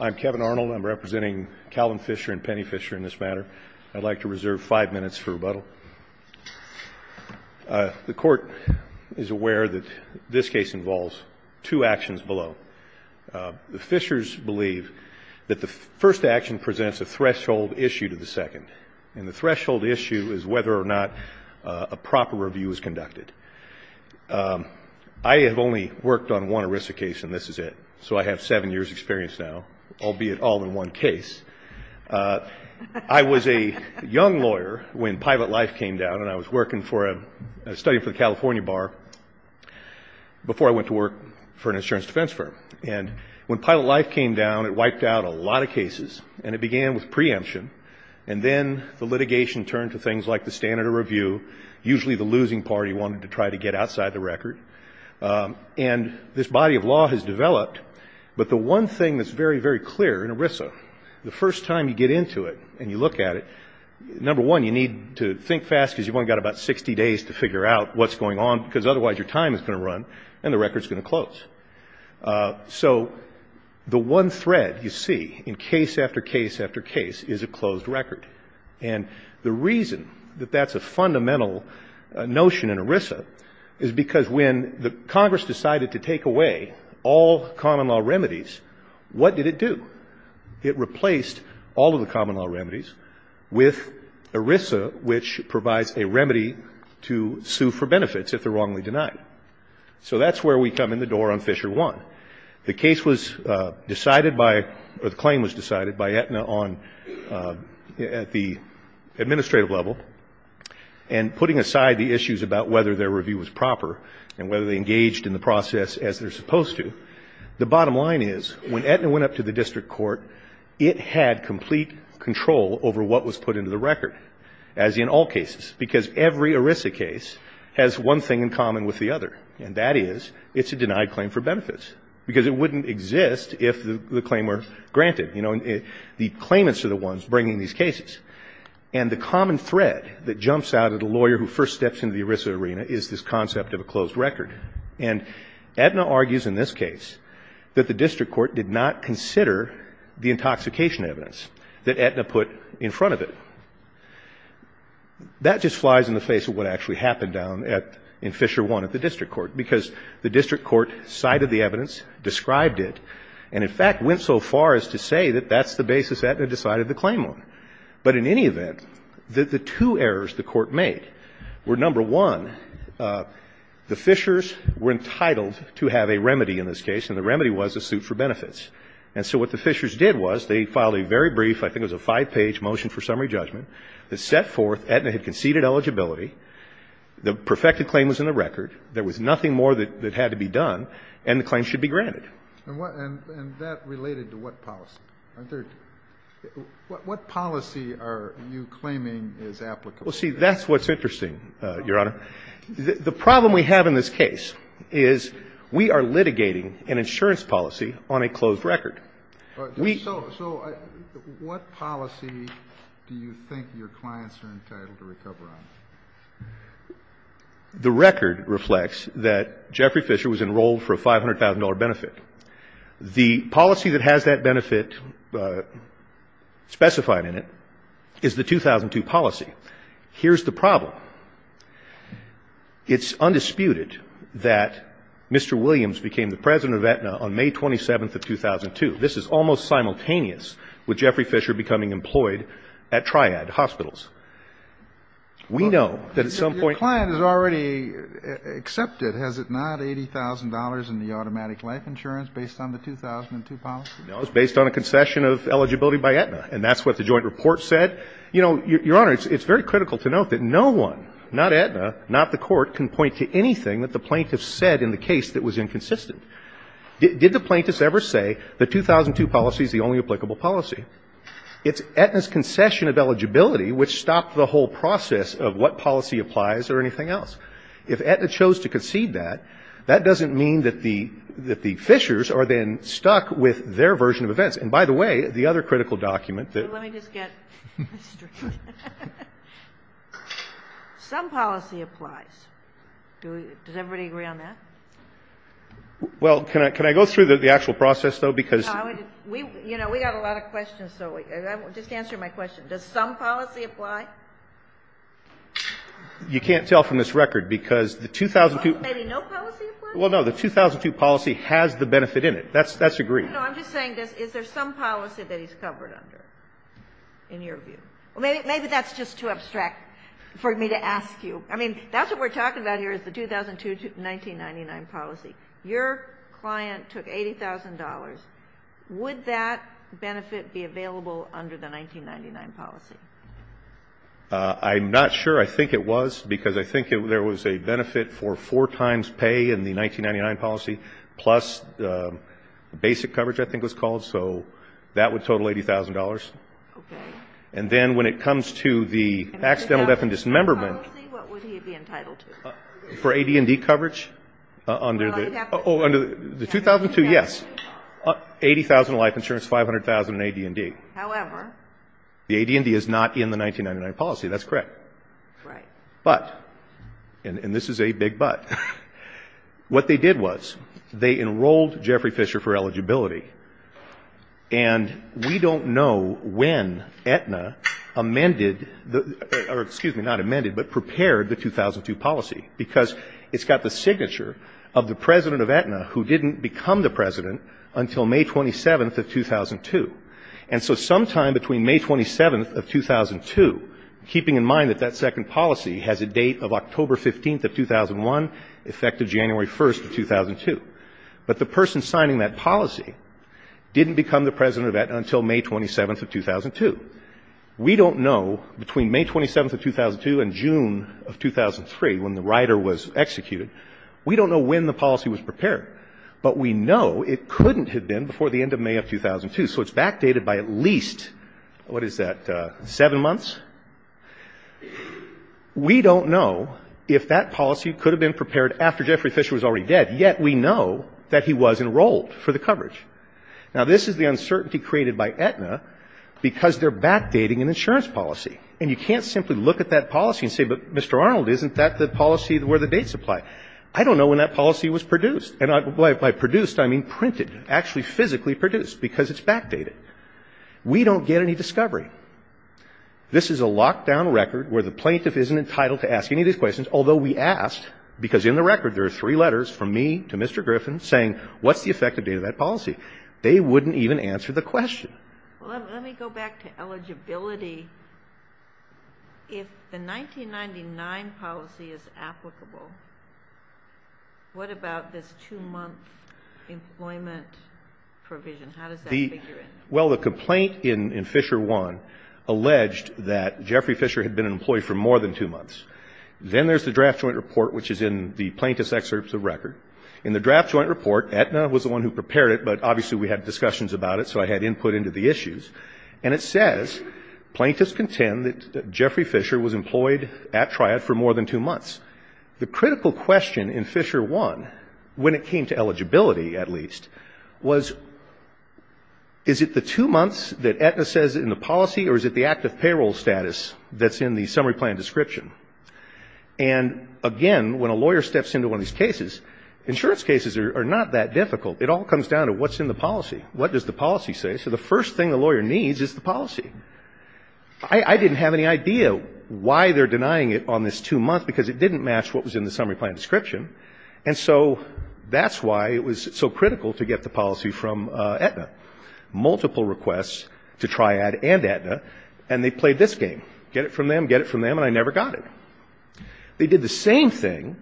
I'm Kevin Arnold. I'm representing Calvin Fisher and Penny Fisher in this matter. I'd like to reserve five minutes for rebuttal. The Court is aware that this case involves two actions below. The Fishers believe that the first action presents a threshold issue to the second, and the threshold issue is whether or not a proper review is conducted. I have only worked on one ERISA case, and this is it, so I have seven years' experience now, albeit all in one case. I was a young lawyer when Pilot Life came down, and I was studying for the California Bar before I went to work for an insurance defense firm. And when Pilot Life came down, it wiped out a lot of cases, and it began with preemption, and then the litigation turned to things like the standard of review. Usually the losing party wanted to try to get outside the record, and this body of law has developed. But the one thing that's very, very clear in ERISA, the first time you get into it and you look at it, number one, you need to think fast because you've only got about 60 days to figure out what's going on, because otherwise your time is going to run and the record's going to close. So the one thread you see in case after case after case is a closed record. And the reason that that's a fundamental notion in ERISA is because when Congress decided to take away all common law remedies, what did it do? It replaced all of the common law remedies with ERISA, which provides a remedy to sue for benefits if they're wrongly denied. So that's where we come in the door on Fisher 1. The case was decided by, or the claim was decided by Aetna on, at the administrative level, and putting aside the issues about whether their review was proper and whether they engaged in the process as they're supposed to, the bottom line is when Aetna went up to the district court, it had complete control over what was put into the record, as in all cases, because every ERISA case has one thing in common with the other, and that is it's a denied claim for benefits, because it wouldn't exist if the claim were granted. You know, the claimants are the ones bringing these cases. And the common thread that jumps out at a lawyer who first steps into the ERISA arena is this concept of a closed record. And Aetna argues in this case that the district court did not consider the intoxication evidence that Aetna put in front of it. That just flies in the face of what actually happened down at, in Fisher 1 at the district court, because the district court cited the evidence, described it, and in fact went so far as to say that that's the basis Aetna decided to claim on. But in any event, the two errors the court made were, number one, the Fishers were entitled to have a remedy in this case, and the remedy was a suit for benefits. And so what the Fishers did was they filed a very brief, I think it was a five-page motion for summary judgment that set forth Aetna had conceded eligibility. The perfected claim was in the record. There was nothing more that had to be done, and the claim should be granted. And what, and that related to what policy? Aren't there, what policy are you claiming is applicable? Well, see, that's what's interesting, Your Honor. The problem we have in this case is we are litigating an insurance policy on a closed record. We So what policy do you think your clients are entitled to recover on? The record reflects that Jeffrey Fisher was enrolled for a $500,000 benefit. The policy that has that benefit specified in it is the 2002 policy. Here's the problem. It's undisputed that Mr. Williams became the president of Aetna on May 27th of 2002. This is almost simultaneous with Jeffrey Fisher becoming employed at Triad Hospitals. We know that at some point Your client has already accepted, has it not, $80,000 in the automatic life insurance based on the 2002 policy? No, it's based on a concession of eligibility by Aetna, and that's what the joint report said. You know, Your Honor, it's very critical to note that no one, not Aetna, not the court, can point to anything that the plaintiffs said in the case that was inconsistent. Did the plaintiffs ever say the 2002 policy is the only applicable policy? It's Aetna's concession of eligibility which stopped the whole process of what policy applies or anything else. If Aetna chose to concede that, that doesn't mean that the Fishers are then stuck with their version of events. And by the way, the other critical document that Let me just get this straight. Some policy applies. Does everybody agree on that? Well, can I go through the actual process, though, because You know, we got a lot of questions, so just answer my question. Does some policy apply? You can't tell from this record, because the 2002 Maybe no policy applies? Well, no. The 2002 policy has the benefit in it. That's agreed. No, I'm just saying, is there some policy that he's covered under? In your view. Maybe that's just too abstract for me to ask you. I mean, that's what we're talking about here is the 2002 to 1999 policy. Your client took $80,000. Would that benefit be available under the 1999 policy? I'm not sure. I think it was, because I think there was a benefit for four times pay in the 1999 policy, plus the basic coverage, I think it was called, so that would total $80,000. And then when it comes to the accidental death and dismemberment Under the 2000 policy, what would he be entitled to? For AD&D coverage? Under the 2002, yes. $80,000 in life insurance, $500,000 in AD&D. However The AD&D is not in the 1999 policy. That's correct. Right. But, and this is a big but, what they did was they enrolled Jeffrey Fisher for when Aetna amended, or excuse me, not amended, but prepared the 2002 policy. Because it's got the signature of the president of Aetna who didn't become the president until May 27th of 2002. And so sometime between May 27th of 2002, keeping in mind that that second policy has a date of October 15th of 2001, effective January 1st of 2002. But the person signing that policy didn't become the president of Aetna until May 27th of 2002. We don't know, between May 27th of 2002 and June of 2003, when the rider was executed. We don't know when the policy was prepared. But we know it couldn't have been before the end of May of 2002. So it's backdated by at least, what is that, seven months? We don't know if that policy could have been prepared after Jeffrey Fisher was already dead, yet we know that he was enrolled for the coverage. Now, this is the uncertainty created by Aetna because they're backdating an insurance policy. And you can't simply look at that policy and say, but, Mr. Arnold, isn't that the policy where the dates apply? I don't know when that policy was produced. And by produced, I mean printed, actually physically produced, because it's backdated. We don't get any discovery. This is a locked-down record where the plaintiff isn't entitled to ask any of these questions, although we asked, because in the record there are three letters from me to Mr. Griffin saying, what's the effective date of that policy? They wouldn't even answer the question. Well, let me go back to eligibility. If the 1999 policy is applicable, what about this two-month employment provision? How does that figure in? Well, the complaint in Fisher 1 alleged that Jeffrey Fisher had been an employee for more than two months. Then there's the draft joint report, which is in the plaintiff's excerpts of record. In the draft joint report, Aetna was the one who prepared it, but obviously we had discussions about it, so I had input into the issues. And it says, plaintiffs contend that Jeffrey Fisher was employed at Triad for more than two months. The critical question in Fisher 1, when it came to eligibility, at least, was, is it the two months that Aetna says in the policy, or is it the active payroll status that's in the summary plan description? And again, when a lawyer steps into one of these cases, insurance cases are not that difficult. It all comes down to what's in the policy. What does the policy say? So the first thing a lawyer needs is the policy. I didn't have any idea why they're denying it on this two months, because it didn't match what was in the summary plan description. And so that's why it was so critical to get the policy from Aetna. Multiple requests to Triad and Aetna, and they played this game. Get it from them, get it from them, and I never got it. They did the same thing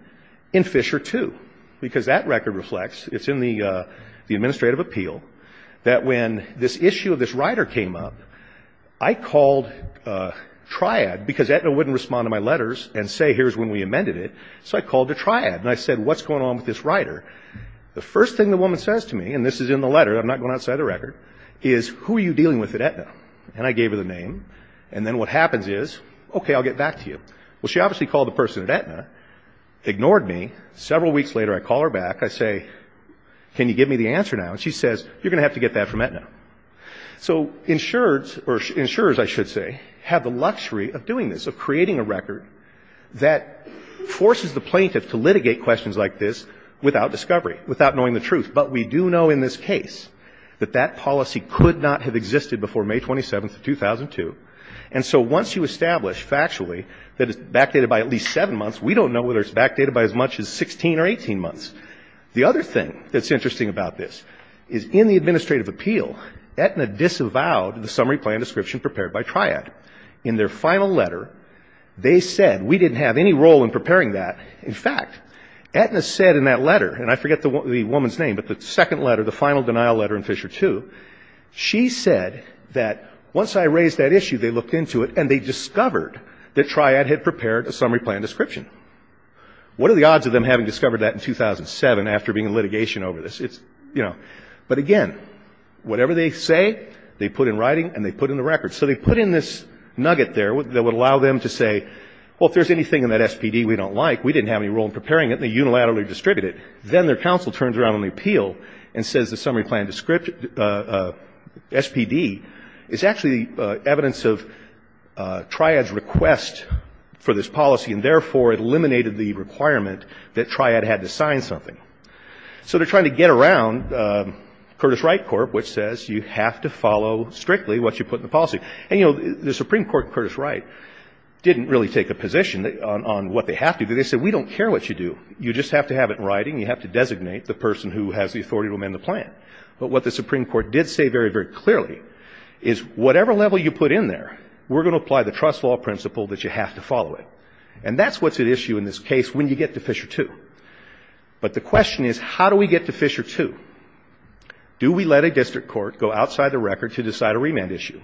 in Fisher 2. Because that record reflects, it's in the administrative appeal, that when this issue of this rider came up, I called Triad, because Aetna wouldn't respond to my letters and say, here's when we amended it. So I called the Triad, and I said, what's going on with this rider? The first thing the woman says to me, and this is in the letter, I'm not going outside the record, is, who are you dealing with at Aetna? And I gave her the name. And then what happens is, okay, I'll get back to you. Well, she obviously called the person at Aetna, ignored me. Several weeks later, I call her back. I say, can you give me the answer now? And she says, you're going to have to get that from Aetna. So insurers, or insurers, I should say, have the luxury of doing this, of creating a record that forces the plaintiff to litigate questions like this without discovery, without knowing the truth. But we do know in this case that that policy could not have existed before May 27th of 2002. And so once you establish factually that it's backdated by at least seven months, we don't know whether it's backdated by as much as 16 or 18 months. The other thing that's interesting about this is, in the administrative appeal, Aetna disavowed the summary plan description prepared by Triad. In their final letter, they said, we didn't have any role in preparing that. In fact, Aetna said in that letter, and I forget the woman's name, but the second letter, the final denial letter in Fisher II, she said that once I raised that issue, they looked into it and they discovered that Triad had prepared a summary plan description. What are the odds of them having discovered that in 2007 after being in litigation over this? But again, whatever they say, they put in writing and they put in the record. So they put in this nugget there that would allow them to say, well, if there's anything in that SPD we don't like, we didn't have any role in preparing it, they unilaterally distribute it. Then their counsel turns around on the appeal and says the summary plan description, SPD, is actually evidence of Triad's request for this policy. And therefore, it eliminated the requirement that Triad had to sign something. So they're trying to get around Curtis Wright Corp., which says you have to follow strictly what you put in the policy. And the Supreme Court, Curtis Wright, didn't really take a position on what they have to. They said, we don't care what you do. You just have to have it in writing. You have to designate the person who has the authority to amend the plan. But what the Supreme Court did say very, very clearly, is whatever level you put in there, we're going to apply the trust law principle that you have to follow it. And that's what's at issue in this case when you get to Fisher 2. But the question is, how do we get to Fisher 2? Do we let a district court go outside the record to decide a remand issue?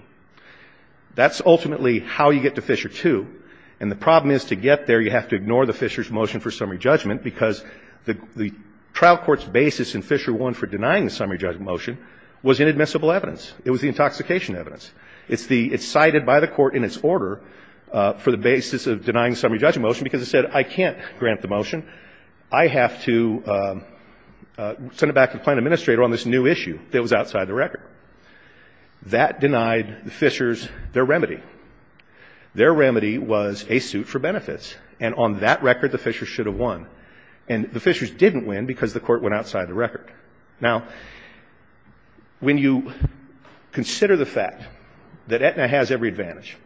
That's ultimately how you get to Fisher 2. And the problem is to get there, you have to ignore the Fisher's motion for summary judgment, because the trial court's basis in Fisher 1 for denying the summary judgment motion was inadmissible evidence. It was the intoxication evidence. It's the, it's cited by the court in its order for the basis of denying the summary judgment motion because it said, I can't grant the motion. I have to send it back to the plan administrator on this new issue that was outside the record. That denied the Fishers their remedy. Their remedy was a suit for benefits. And on that record, the Fishers should have won. And the Fishers didn't win because the court went outside the record. Now, when you consider the fact that Aetna has every advantage,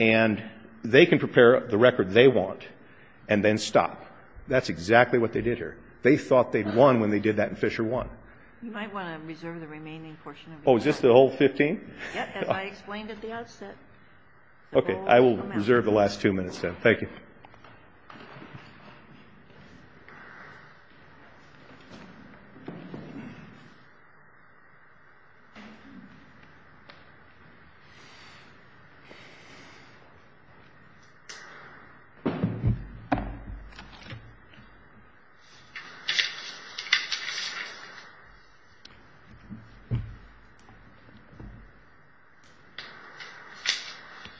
and they can prepare the record they want, and then stop, that's exactly what they did here. They thought they'd won when they did that in Fisher 1. You might want to reserve the remaining portion of your time. Oh, is this the whole 15? Yes, as I explained at the outset. Okay. I will reserve the last two minutes then. Thank you.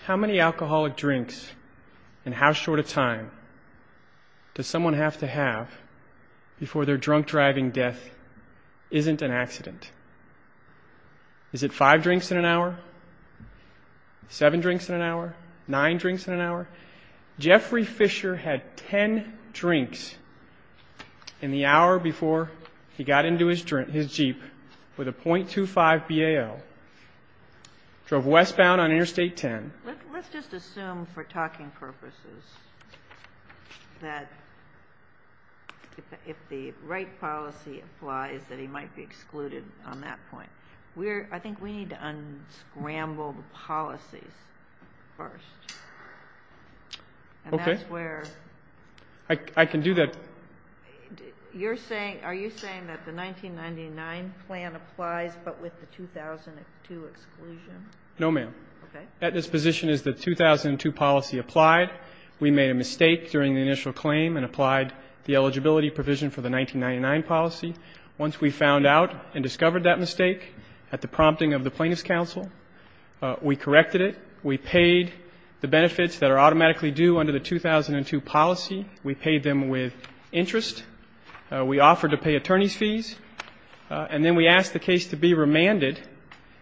How many alcoholic drinks and how short a time does someone have to have before their drunk driving death isn't an accident? Is it five drinks in an hour? Seven drinks in an hour? Nine drinks in an hour? Jeffrey Fisher had 10 drinks in the hour before he got into his Jeep with a .25 BAL. Drove westbound on Interstate 10. Let's just assume for talking purposes that if the right policy applies, that he might be excluded on that point. I think we need to unscramble the policies first. Okay. And that's where... I can do that. You're saying, are you saying that the 1999 plan applies but with the 2002 exclusion? No, ma'am. Okay. At this position is the 2002 policy applied. We made a mistake during the initial claim and applied the eligibility provision for the 1999 policy. Once we found out and discovered that mistake at the prompting of the Plaintiff's counsel, we corrected it. We paid the benefits that are automatically due under the 2002 policy. We paid them with interest. We offered to pay attorney's fees. And then we asked the case to be remanded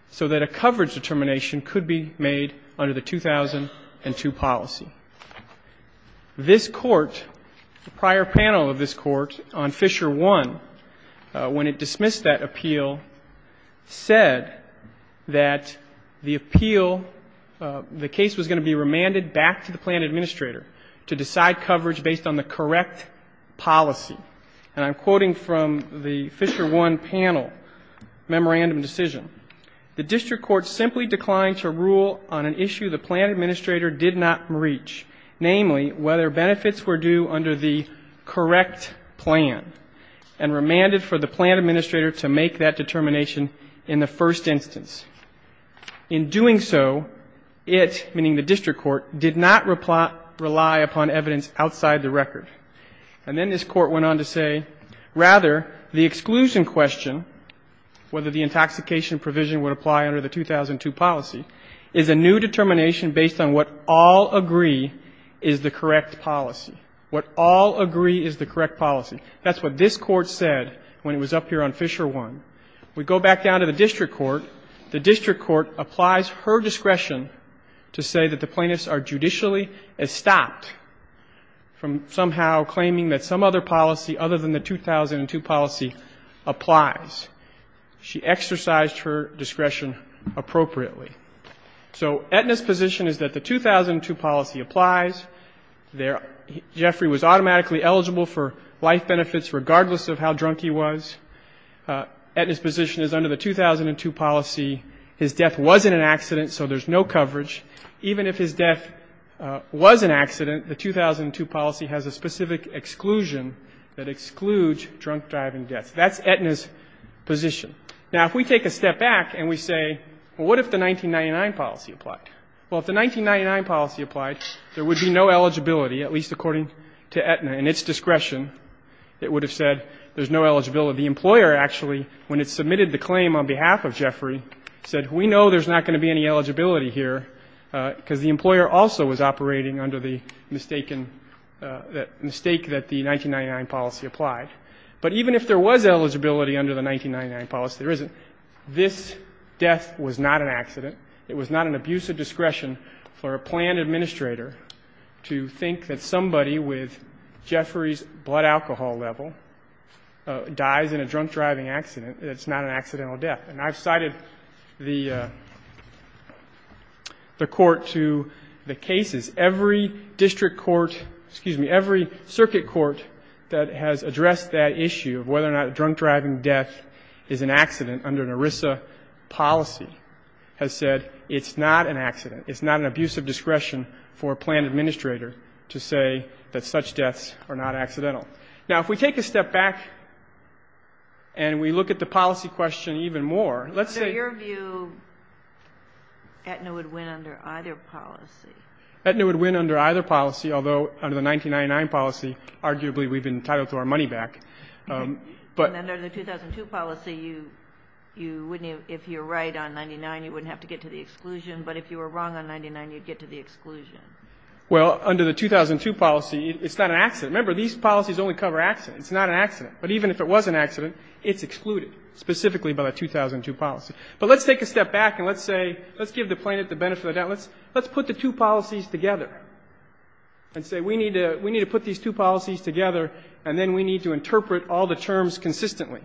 so that a coverage determination could be made under the 2002 policy. This court, the prior panel of this court on Fisher 1, when it dismissed that appeal, said that the appeal, the case was going to be remanded back to the plan administrator to decide coverage based on the correct policy. And I'm quoting from the Fisher 1 panel memorandum decision. The district court simply declined to rule on an issue the plan administrator did not reach, namely whether benefits were due under the correct plan, and remanded for the plan administrator to make that determination in the first instance. In doing so, it, meaning the district court, did not rely upon evidence outside the record. And then this court went on to say, rather, the exclusion question, whether the intoxication provision would apply under the 2002 policy, is a new determination based on what all agree is the correct policy. What all agree is the correct policy. That's what this court said when it was up here on Fisher 1. We go back down to the district court. The district court applies her discretion to say that the plaintiffs are judicially estopped from somehow claiming that some other policy other than the 2002 policy applies. She exercised her discretion appropriately. So Etna's position is that the 2002 policy applies. Jeffrey was automatically eligible for life benefits regardless of how drunk he was. Etna's position is under the 2002 policy, his death wasn't an accident, so there's no coverage. Even if his death was an accident, the 2002 policy has a specific exclusion that excludes drunk driving deaths. That's Etna's position. Now, if we take a step back and we say, well, what if the 1999 policy applied? Well, if the 1999 policy applied, there would be no eligibility, at least according to Etna. In its discretion, it would have said there's no eligibility. The employer actually, when it submitted the claim on behalf of Jeffrey, said, we know there's not going to be any eligibility here because the employer also was operating under the mistaken, mistake that the 1999 policy applied. But even if there was eligibility under the 1999 policy, there isn't. This death was not an accident. It was not an abuse of discretion for a planned administrator to think that somebody with Jeffrey's blood alcohol level dies in a drunk driving accident. It's not an accidental death. And I've cited the court to the cases. Every district court, excuse me, every circuit court that has addressed that issue of whether or not a drunk driving death is an accident under an ERISA policy has said, it's not an accident. It's not an abuse of discretion for a planned administrator to say that such deaths are not accidental. Now, if we take a step back and we look at the policy question even more, let's say. Under your view, Etna would win under either policy. Etna would win under either policy, although under the 1999 policy, arguably, we've been entitled to our money back, but. And under the 2002 policy, you wouldn't, if you're right on 99, you wouldn't have to get to the exclusion, but if you were wrong on 99, you'd get to the exclusion. Well, under the 2002 policy, it's not an accident. Remember, these policies only cover accidents. It's not an accident. But even if it was an accident, it's excluded, specifically by the 2002 policy. But let's take a step back and let's say, let's give the plaintiff the benefit of the doubt. Let's put the two policies together and say, we need to put these two policies together and then we need to interpret all the terms consistently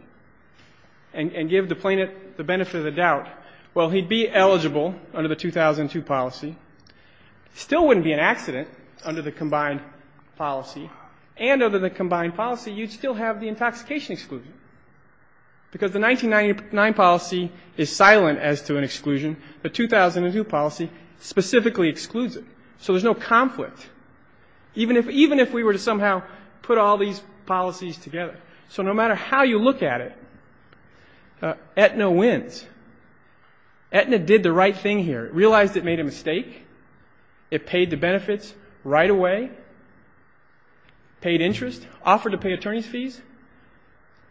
and give the plaintiff the benefit of the doubt. Well, he'd be eligible under the 2002 policy. Still wouldn't be an accident under the combined policy. And under the combined policy, you'd still have the intoxication exclusion. Because the 1999 policy is silent as to an exclusion. The 2002 policy specifically excludes it. So there's no conflict. Even if we were to somehow put all these policies together. So no matter how you look at it, Aetna wins. Aetna did the right thing here. It realized it made a mistake. It paid the benefits right away, paid interest, offered to pay attorney's fees.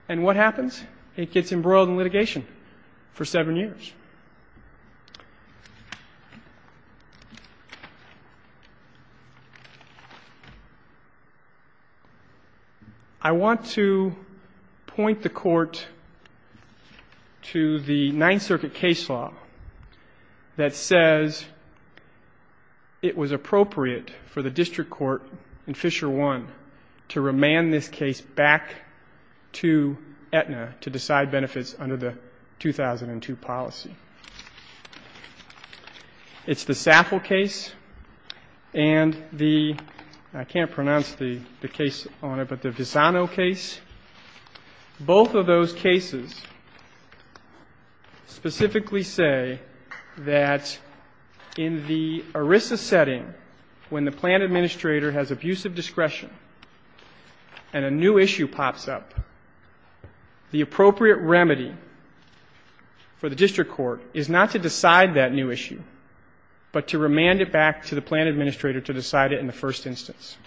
And what happens? It gets embroiled in litigation for seven years. I want to point the court to the Ninth Circuit case law that says it was appropriate for the district court in Fisher I to remand this case back to Aetna to decide benefits under the 2002 policy. It's the Saffel case and the, I can't pronounce the case on it, but the Visano case. Both of those cases specifically say that in the ERISA setting, when the plan administrator has abusive discretion and a new issue pops up, the appropriate remedy for the district court is not to decide that new issue, but to remand it back to the plan administrator to decide it in the first instance.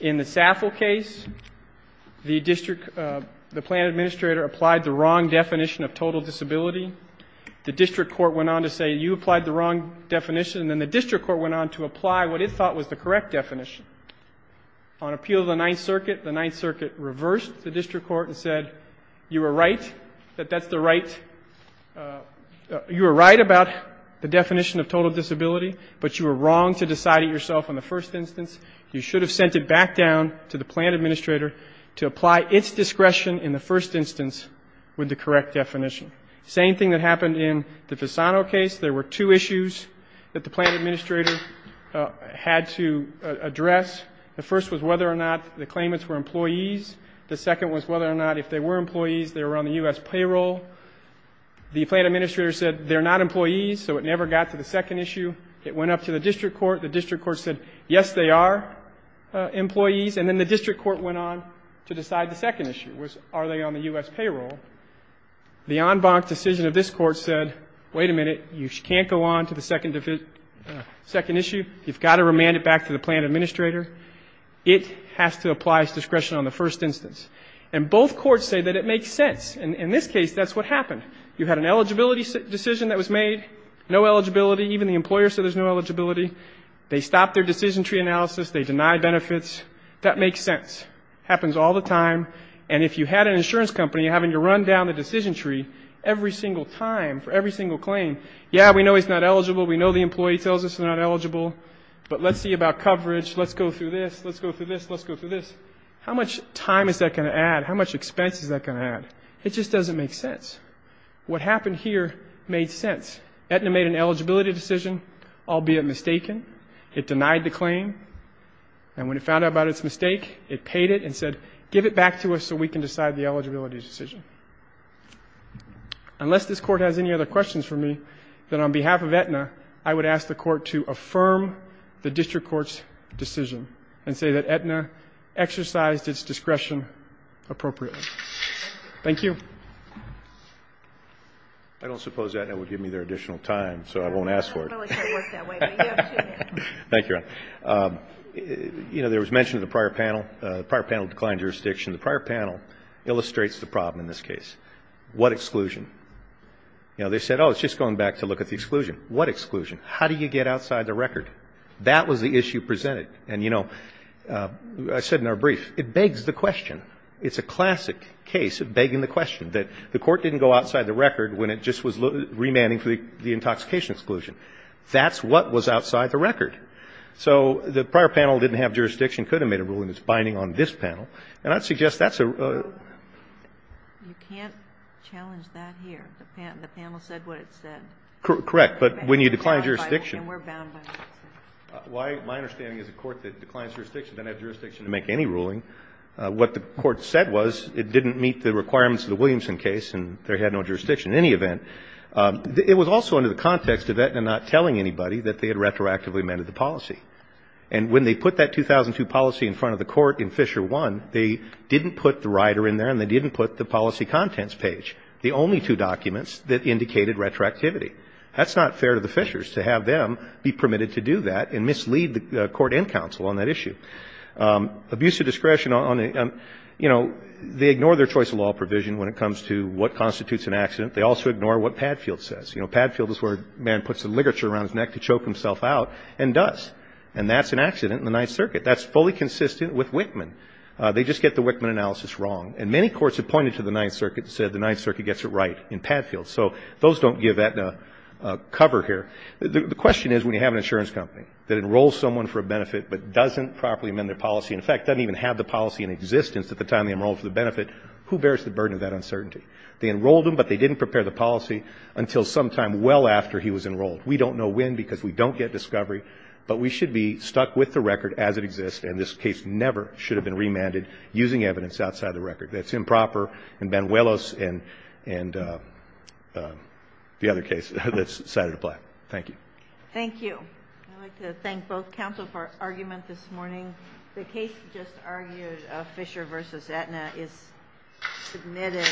In the Saffel case, the district, the plan administrator applied the wrong definition of total disability. The district court went on to say, you applied the wrong definition, and then the district court went on to apply what it thought was the correct definition. On appeal of the Ninth Circuit, the Ninth Circuit reversed the district court and said, you were right, that that's the right, you were right about the definition of total disability, but you were wrong to decide it yourself in the first instance. You should have sent it back down to the plan administrator to apply its discretion in the first instance with the correct definition. Same thing that happened in the Visano case. There were two issues that the plan administrator had to address. The first was whether or not the claimants were employees. The second was whether or not, if they were employees, they were on the U.S. payroll. The plan administrator said, they're not employees, so it never got to the second issue. It went up to the district court. The district court said, yes, they are employees. And then the district court went on to decide the second issue was, are they on the U.S. payroll? The en banc decision of this court said, wait a minute, you can't go on to the second issue. You've got to remand it back to the plan administrator. It has to apply its discretion on the first instance. And both courts say that it makes sense. In this case, that's what happened. You had an eligibility decision that was made, no eligibility. Even the employer said there's no eligibility. They stopped their decision tree analysis. They denied benefits. That makes sense. Happens all the time. And if you had an insurance company having to run down the decision tree every single time for every single claim, yeah, we know he's not eligible. We know the employee tells us they're not eligible. But let's see about coverage. Let's go through this. Let's go through this. Let's go through this. How much time is that going to add? How much expense is that going to add? It just doesn't make sense. What happened here made sense. Aetna made an eligibility decision, albeit mistaken. It denied the claim. And when it found out about its mistake, it paid it and said, give it back to us so we can decide the eligibility decision. Unless this court has any other questions for me, then on behalf of Aetna, I would ask the court to affirm the district court's decision and say that Aetna exercised its discretion appropriately. Thank you. I don't suppose Aetna would give me their additional time, so I won't ask for it. I don't really think it works that way, but you have two minutes. Thank you, Your Honor. You know, there was mention of the prior panel, the prior panel declined jurisdiction. The prior panel illustrates the problem in this case. What exclusion? You know, they said, oh, it's just going back to look at the exclusion. What exclusion? How do you get outside the record? That was the issue presented. And, you know, I said in our brief, it begs the question. It's a classic case of begging the question, that the court didn't go outside the record when it just was remanding for the intoxication exclusion. That's what was outside the record. So the prior panel didn't have jurisdiction, could have made a ruling that's binding on this panel, and I'd suggest that's a rule. You can't challenge that here. The panel said what it said. Correct, but when you decline jurisdiction. And we're bound by that. My understanding is a court that declines jurisdiction doesn't have jurisdiction to make any ruling. What the court said was it didn't meet the requirements of the Williamson case, and there had no jurisdiction in any event. It was also under the context of that and not telling anybody that they had retroactively amended the policy. And when they put that 2002 policy in front of the court in Fisher 1, they didn't put the rider in there and they didn't put the policy contents page, the only two documents that indicated retroactivity. That's not fair to the Fishers to have them be permitted to do that and mislead the court and counsel on that issue. Abuse of discretion on a – you know, they ignore their choice of law provision when it comes to what constitutes an accident. They also ignore what Padfield says. You know, Padfield is where a man puts a ligature around his neck to choke himself out and does, and that's an accident in the Ninth Circuit. That's fully consistent with Wichman. They just get the Wichman analysis wrong. And many courts have pointed to the Ninth Circuit and said the Ninth Circuit gets it right in Padfield. So those don't give that cover here. The question is when you have an insurance company that enrolls someone for a benefit but doesn't properly amend their policy, in fact, doesn't even have the policy in existence at the time they enrolled for the benefit, who bears the burden of that uncertainty? They enrolled him, but they didn't prepare the policy until sometime well after he was enrolled. We don't know when because we don't get discovery, but we should be stuck with the record as it exists, and this case never should have been remanded using evidence outside the record. That's improper in Banuelos and the other case that's cited apply. Thank you. Thank you. I'd like to thank both counsel for argument this morning. The case just argued, Fisher v. Aetna, is submitted.